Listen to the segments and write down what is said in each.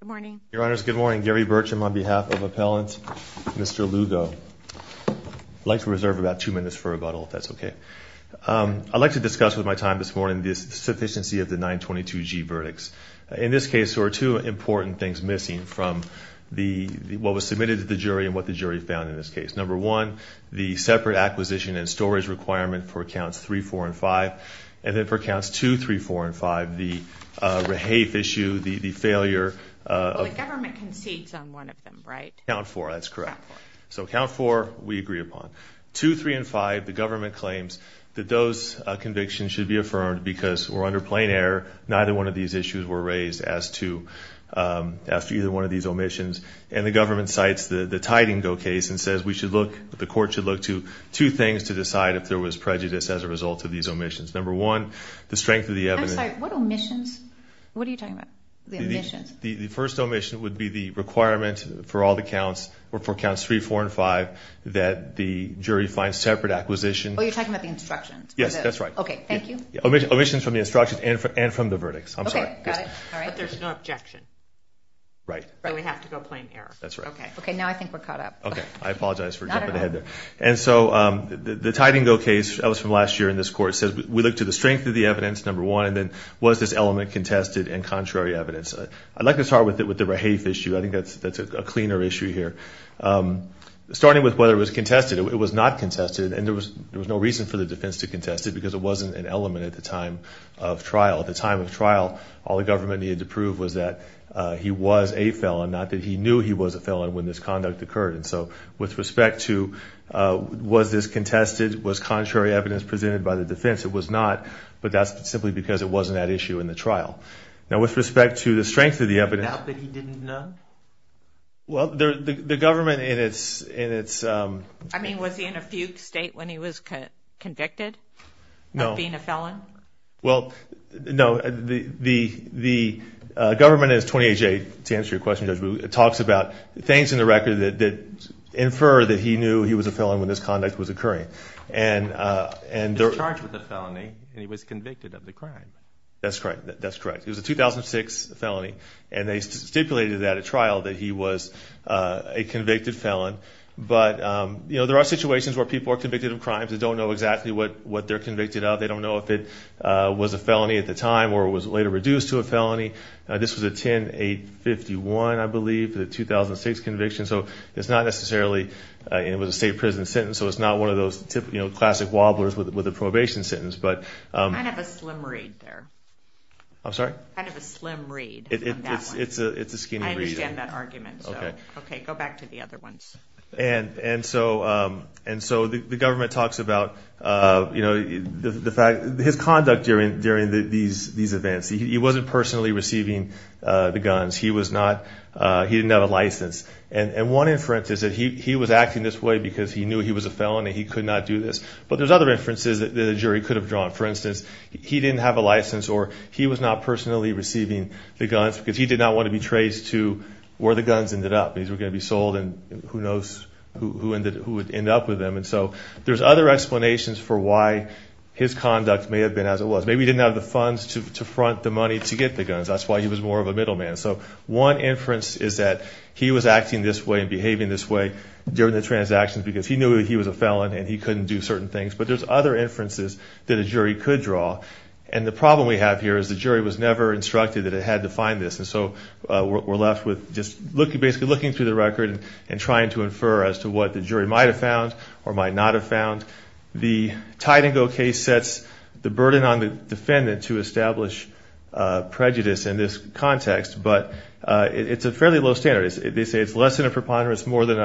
Good morning. Your honors, good morning. Gary Burcham on behalf of appellant Mr. Lugo. I'd like to reserve about two minutes for rebuttal if that's okay. I'd like to discuss with my time this morning this sufficiency of the 922 G verdicts. In this case there are two important things missing from the what was submitted to the jury and what the jury found in this case. Number one, the separate acquisition and storage requirement for accounts 3, 4, and 5. And then for government concedes on one of them, right? Count 4, that's correct. So count 4 we agree upon. 2, 3, and 5, the government claims that those convictions should be affirmed because we're under plain error. Neither one of these issues were raised as to, as to either one of these omissions. And the government cites the the Tidingow case and says we should look, the court should look to two things to decide if there was prejudice as a result of these omissions. Number one, the first omission would be the requirement for all the counts or for counts 3, 4, and 5 that the jury find separate acquisition. Oh, you're talking about the instructions. Yes, that's right. Okay, thank you. Omissions from the instructions and from the verdicts. I'm sorry. But there's no objection. Right. So we have to go plain error. That's right. Okay. Okay, now I think we're caught up. Okay, I apologize for jumping ahead there. And so the Tidingow case, that was from last year in this court, says we look to the strength of the evidence, number one, and then was this element contested and was this contrary evidence? I'd like to start with it with the Rahafe issue. I think that's that's a cleaner issue here. Starting with whether it was contested. It was not contested and there was there was no reason for the defense to contest it because it wasn't an element at the time of trial. At the time of trial, all the government needed to prove was that he was a felon, not that he knew he was a felon when this conduct occurred. And so with respect to was this contested, was contrary evidence presented by the defense? It was not, but that's simply because it wasn't that issue in the trial. Now with respect to the strength of the evidence... Not that he didn't know? Well, the government in its... I mean, was he in a fugue state when he was convicted? No. Of being a felon? Well, no. The government in its 28-J, to answer your question, Judge, talks about things in the record that infer that he knew he was a felon when this conduct was occurring. And... He was charged with a felony and he was That's correct. That's correct. It was a 2006 felony and they stipulated that at trial that he was a convicted felon. But, you know, there are situations where people are convicted of crimes that don't know exactly what what they're convicted of. They don't know if it was a felony at the time or was later reduced to a felony. This was a 10-851, I believe, for the 2006 conviction. So it's not necessarily... It was a state prison sentence, so it's not one of those classic wobblers with a probation sentence. But... Kind of a slim read there. I'm sorry? Kind of a slim read. It's a skinny read. I understand that argument. Okay, go back to the other ones. And so the government talks about, you know, the fact... His conduct during these events. He wasn't personally receiving the guns. He was not... He didn't have a license. And one inference is that he was acting this way because he knew he was a do this. But there's other inferences that the jury could have drawn. For instance, he didn't have a license or he was not personally receiving the guns because he did not want to be traced to where the guns ended up. These were going to be sold and who knows who would end up with them. And so there's other explanations for why his conduct may have been as it was. Maybe he didn't have the funds to front the money to get the guns. That's why he was more of a middleman. So one inference is that he was acting this way and behaving this way during the transactions because he knew that he was a felon and he couldn't do certain things. But there's other inferences that a jury could draw. And the problem we have here is the jury was never instructed that it had to find this. And so we're left with just basically looking through the record and trying to infer as to what the jury might have found or might not have found. The Tidango case sets the burden on the defendant to establish prejudice in this context. But it's a fairly low standard. They say it's less than a preponderance, more than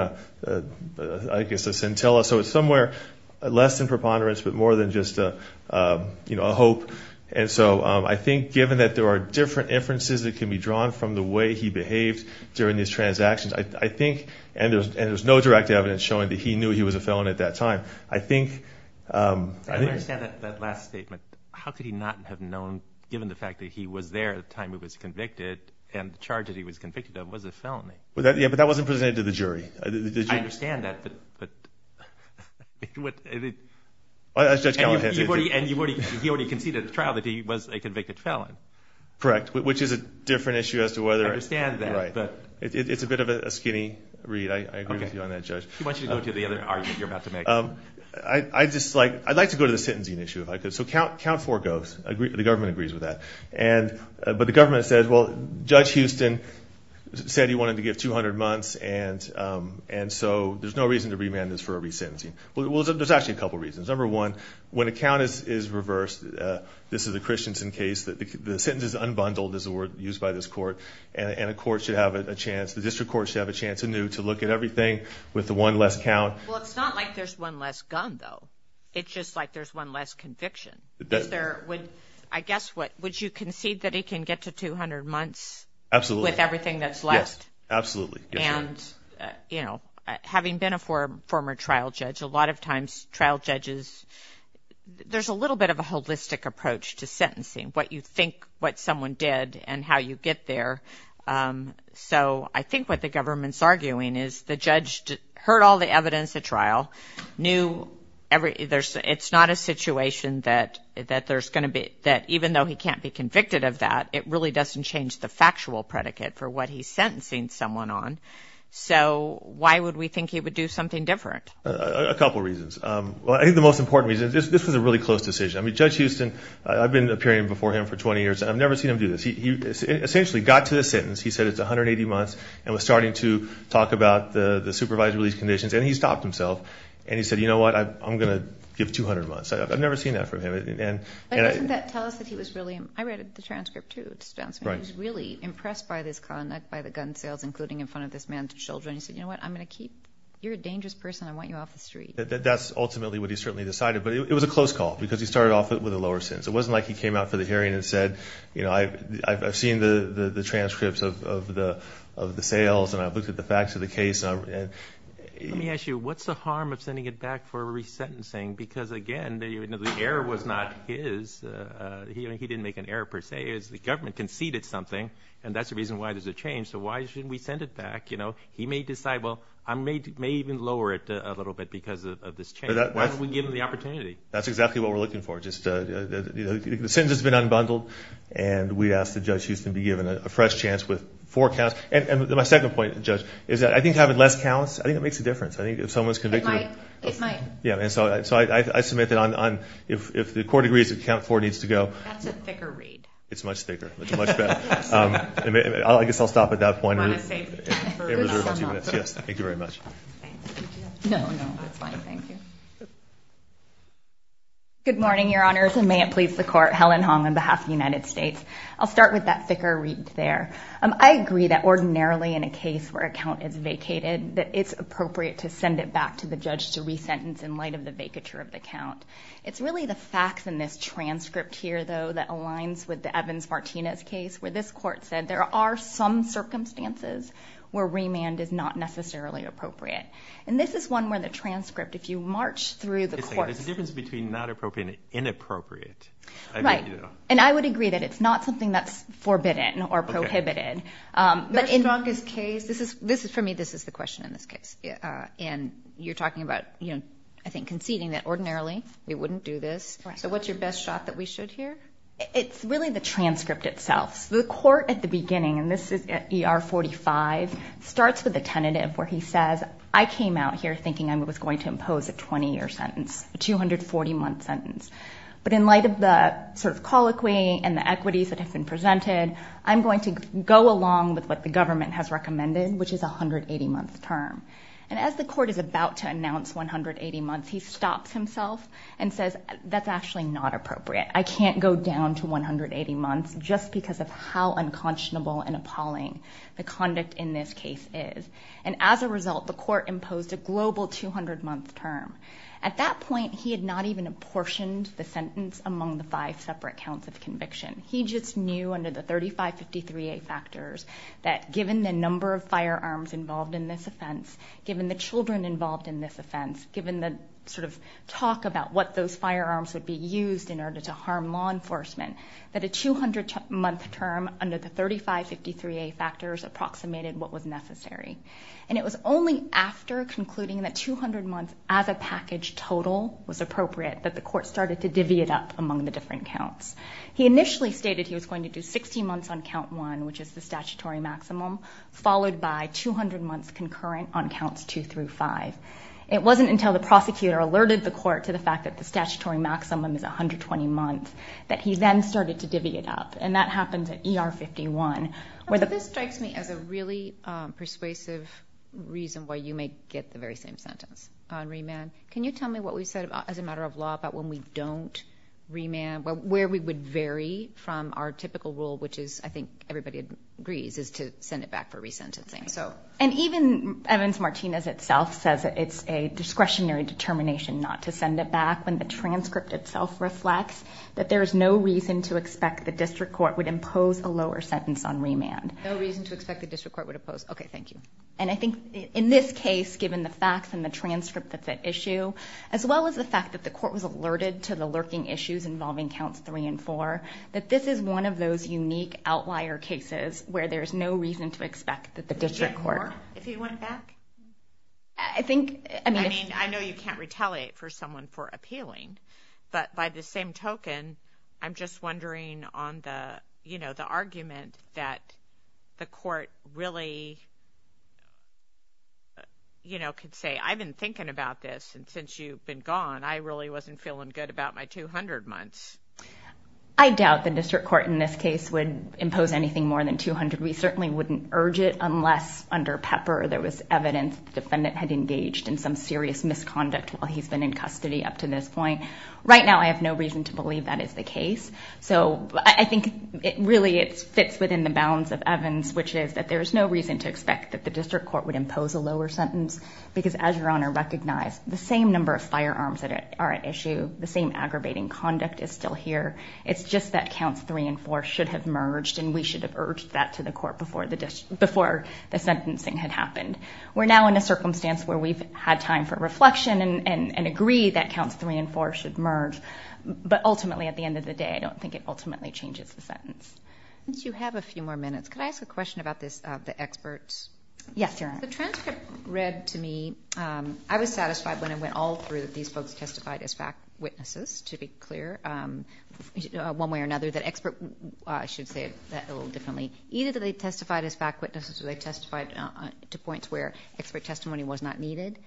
I guess a scintilla. So it's somewhere less than preponderance, but more than just a hope. And so I think given that there are different inferences that can be drawn from the way he behaved during these transactions, I think, and there's no direct evidence showing that he knew he was a felon at that time, I think... I don't understand that last statement. How could he not have known given the fact that he was there at the time he was convicted and the charge that he was convicted of was a felony? Yeah, but that wasn't presented to the jury. I understand that, but... As Judge Callahan said... And he already conceded at the trial that he was a convicted felon. Correct, which is a different issue as to whether... I understand that, but... It's a bit of a skinny read. I agree with you on that, Judge. He wants you to go to the other argument you're about to make. I'd like to go to the sentencing issue if I could. So count four goes. The government agrees with that. But the government says, well, Judge Houston said he wanted to give 200 months and so there's no reason to remand this for a re-sentencing. Well, there's actually a couple reasons. Number one, when a count is reversed, this is a Christensen case, the sentence is unbundled, is the word used by this court, and a court should have a chance, the district court should have a chance anew to look at everything with the one less count. Well, it's not like there's one less gun, though. It's just like there's one less conviction. Is there... I guess, would you concede that he can get to 200 months? Absolutely. With everything that's left? Yes, absolutely. And, you know, having been a former trial judge, a lot of times trial judges... There's a little bit of a holistic approach to sentencing, what you think what someone did and how you get there. So I think what the government's arguing is the judge heard all the evidence at trial, knew every... It's not a situation that there's going to be... That even though he can't be convicted of that, it really doesn't change the factual predicate for what he's sentencing someone on. So why would we think he would do something different? A couple reasons. Well, I think the most important reason, this was a really close decision. I mean, Judge Houston, I've been appearing before him for 20 years, and I've never seen him do this. He essentially got to the sentence, he said it's 180 months, and was starting to talk about the supervised release conditions, and he stopped himself, and he said, you know what? I'm going to give 200 months. I've never seen that from him. But doesn't that tell us that he was really... I read the transcript, too. He was really impressed by this conduct, by the gun sales, including in front of this man's children. He said, you know what? I'm going to keep... You're a dangerous person. I want you off the street. That's ultimately what he certainly decided, but it was a close call because he started off with a lower sentence. It wasn't like he came out for the hearing and said, you know, I've seen the transcripts of the sales, and I've looked at the facts of the case. Let me ask you, what's the harm of sending it back for resentencing? Because, again, the error was not his. He didn't make an error, per se. It was the government conceded something, and that's the reason why there's a change. So why shouldn't we send it back? He may decide, well, I may even lower it a little bit because of this change. Why don't we give him the opportunity? That's exactly what we're looking for. The sentence has been unbundled, and we ask that Judge Houston be given a fresh chance with four counts. And my second point, Judge, is that I think having less counts, I think it makes a difference. I think if someone's convicted... It might. Yeah, and so I submit that if the court agrees that count four needs to go... That's a thicker read. It's much thicker. It's much better. I guess I'll stop at that point. You want to save time for a good sum up? Yes. Thank you very much. No, no, that's fine. Thank you. Good morning, Your Honors, and may it please the Court, Helen Hong on behalf of the United States. I'll start with that thicker read there. I agree that ordinarily in a case where a count is vacated, that it's appropriate to send it back to the judge to re-sentence in light of the vacature of the count. It's really the facts in this transcript here, though, that aligns with the Evans-Martinez case, where this court said there are some circumstances where remand is not necessarily appropriate. And this is one where the transcript, if you march through the court... There's a difference between not appropriate and inappropriate. Right. And I would agree that it's not something that's forbidden or prohibited. Your strongest case... This is... For me, this is the question in this case. And you're talking about, you know, I think conceding that ordinarily we wouldn't do this. Correct. So what's your best shot that we should here? It's really the transcript itself. The court at the beginning, and this is at ER 45, starts with a tentative where he says, I came out here thinking I was going to impose a 20-year sentence, a 240-month sentence. But in light of the sort of colloquy and the equities that have been presented, I'm going to go along with what the government has recommended, which is a 180-month term. And as the court is about to announce 180 months, he stops himself and says, that's actually not appropriate. I can't go down to 180 months just because of how unconscionable and appalling the conduct in this case is. And as a result, the court imposed a global 200-month term. At that point, he had not even apportioned the sentence among the five separate counts of conviction. He just knew under the 3553A factors that given the number of firearms involved in this offense, given the children involved in this offense, given the sort of talk about what those firearms would be used in order to harm law enforcement, that a 200-month term under the 3553A factors approximated what was necessary. And it was only after concluding that 200 months as a package total was appropriate that the court started to divvy it up among the different counts. He initially stated he was going to do 16 months on Count 1, which is the statutory maximum, followed by 200 months concurrent on Counts 2 through 5. It wasn't until the prosecutor alerted the court to the fact that the statutory maximum is 120 months that he then started to divvy it up. And that happened at ER 51. This strikes me as a really persuasive reason why you may get the very same sentence on remand. Can you tell me what we said as a matter of law about when we don't remand, where we would vary from our typical rule, which I think everybody agrees is to send it back for resentencing. And even Evans-Martinez itself says it's a discretionary determination not to send it back when the transcript itself reflects that there is no reason to expect the district court would impose a lower sentence on remand. No reason to expect the district court would impose. Okay, thank you. And I think in this case, given the facts and the transcript that's at issue, as well as the fact that the court was alerted to the lurking issues involving counts 3 and 4, that this is one of those unique outlier cases where there's no reason to expect that the district court... Would you get more if you went back? I think... I mean, I know you can't retaliate for someone for appealing, but by the same token, I'm just wondering on the, you know, the argument that the court really, you know, could say, I've been thinking about this and since you've been gone, I really wasn't feeling good about my 200 months. I doubt the district court in this case would impose anything more than 200. We certainly wouldn't urge it unless under Pepper there was evidence the defendant had engaged in some serious misconduct while he's been in custody up to this point. Right now, I have no reason to believe that is the case. So I think it really, it fits within the bounds of Evans, there is no reason to expect that the district court would impose a lower sentence because as Your Honor recognized, the same number of firearms that are at issue, the same amount of misconduct and aggravating conduct is still here. It's just that counts three and four should have merged and we should have urged that to the court before the sentencing had happened. We're now in a circumstance where we've had time for reflection and agree that counts three and four should merge but ultimately at the end of the day, I don't think it ultimately changes the sentence. Since you have a few more minutes, could I ask a question about this, the experts? Yes, Your Honor. The transcript read to me, I was satisfied when I went all through that these folks testified as fact witnesses to be clear one way or another that expert should say that a little differently. Either they testified as fact witnesses or they testified to points where expert testimony was not needed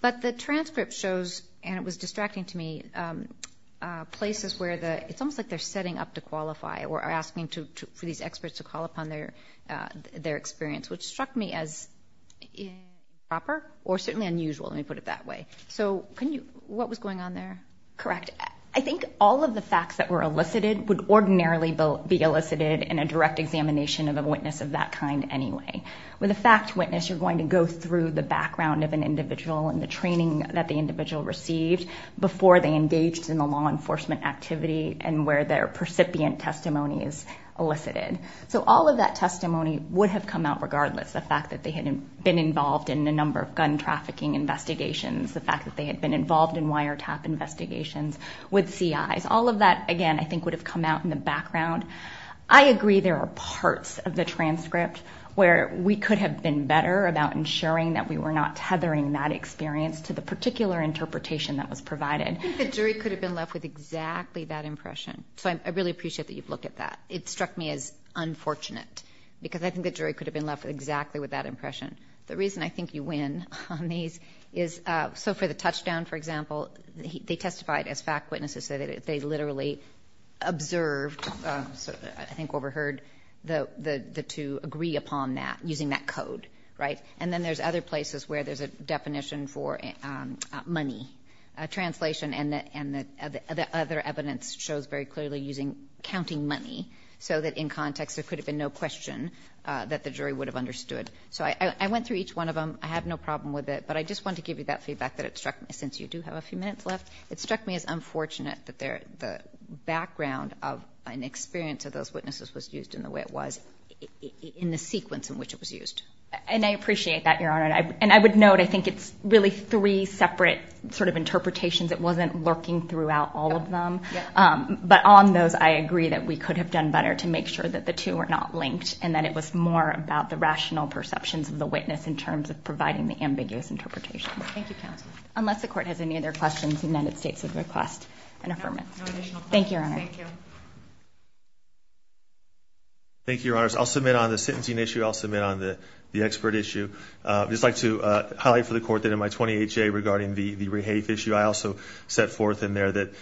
but the transcript shows and it was distracting to me places where the it's almost like to qualify or are asking for these experts to call upon their experience which struck me as improper or certainly unusual let me put it that way. So can you explain what was going on there? Correct. I think all of the facts that were elicited would ordinarily be elicited in a direct examination of a witness of that kind anyway. With a fact witness you're going to go through the background of an individual and the training that the individual received before they engaged in the law enforcement activity and where their percipient testimony is elicited. So all of that testimony would have come out regardless the fact that they had been involved in a number of gun trafficking investigations the fact that they had been involved in wiretap investigations with CIs all of that again I think would have come out in the background. I agree there are parts of the transcript where we could have been better about ensuring that we were not tethering that experience to the particular interpretation that was provided. I think the jury could have been left with exactly that impression. So I really appreciate that you've looked at that. It struck me as unfortunate because I think the jury could have been left exactly with that impression. The reason I think you win on these is so for the touchdown for example they testified as fact witnesses they literally observed I think overheard the two agree upon that using that code right? And then there's other places where there's a definition for money translation and the other evidence shows very clearly using counting money so that in context there could have been no question that the jury would have understood. So I went through each one of them I have no problem with it but I just want to give you that feedback that it struck me since you do have a few minutes left it struck me as unfortunate that the background of an experience of those witnesses was used in the way it was in the sequence in which it was used. And I appreciate that Your Honor and I would note I think it's really three separate sort of interpretations it wasn't lurking throughout all of them but on those I agree that we could have done better to make sure that the two were not linked and that it was more about the rational perceptions of the witness in terms of providing the ambiguous interpretation. Thank you counsel. Unless the court has any other questions the United States would request an affirmation. Thank you Your Honor. Thank you. Thank you Your Honors I'll submit on the sentencing issue I'll submit on the expert issue I would just like to highlight for the court that in my 28-J regarding the rehafe issue I also set forth in there that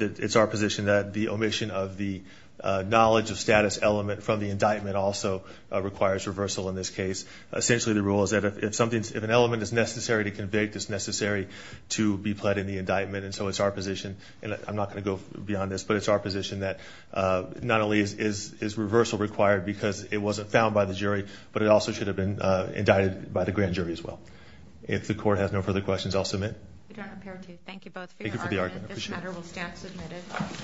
it's our position that the omission of the knowledge of status element from the indictment also requires reversal in this case. Essentially the rule is that if an element is necessary to convict it's necessary and so it's our position and I'm not going to go beyond this but it's our position that not only is reversal required because it wasn't found by the jury but it also should have been indicted by the grand jury as well. If the court has no further questions I'll submit. Thank you both for your argument. This matter will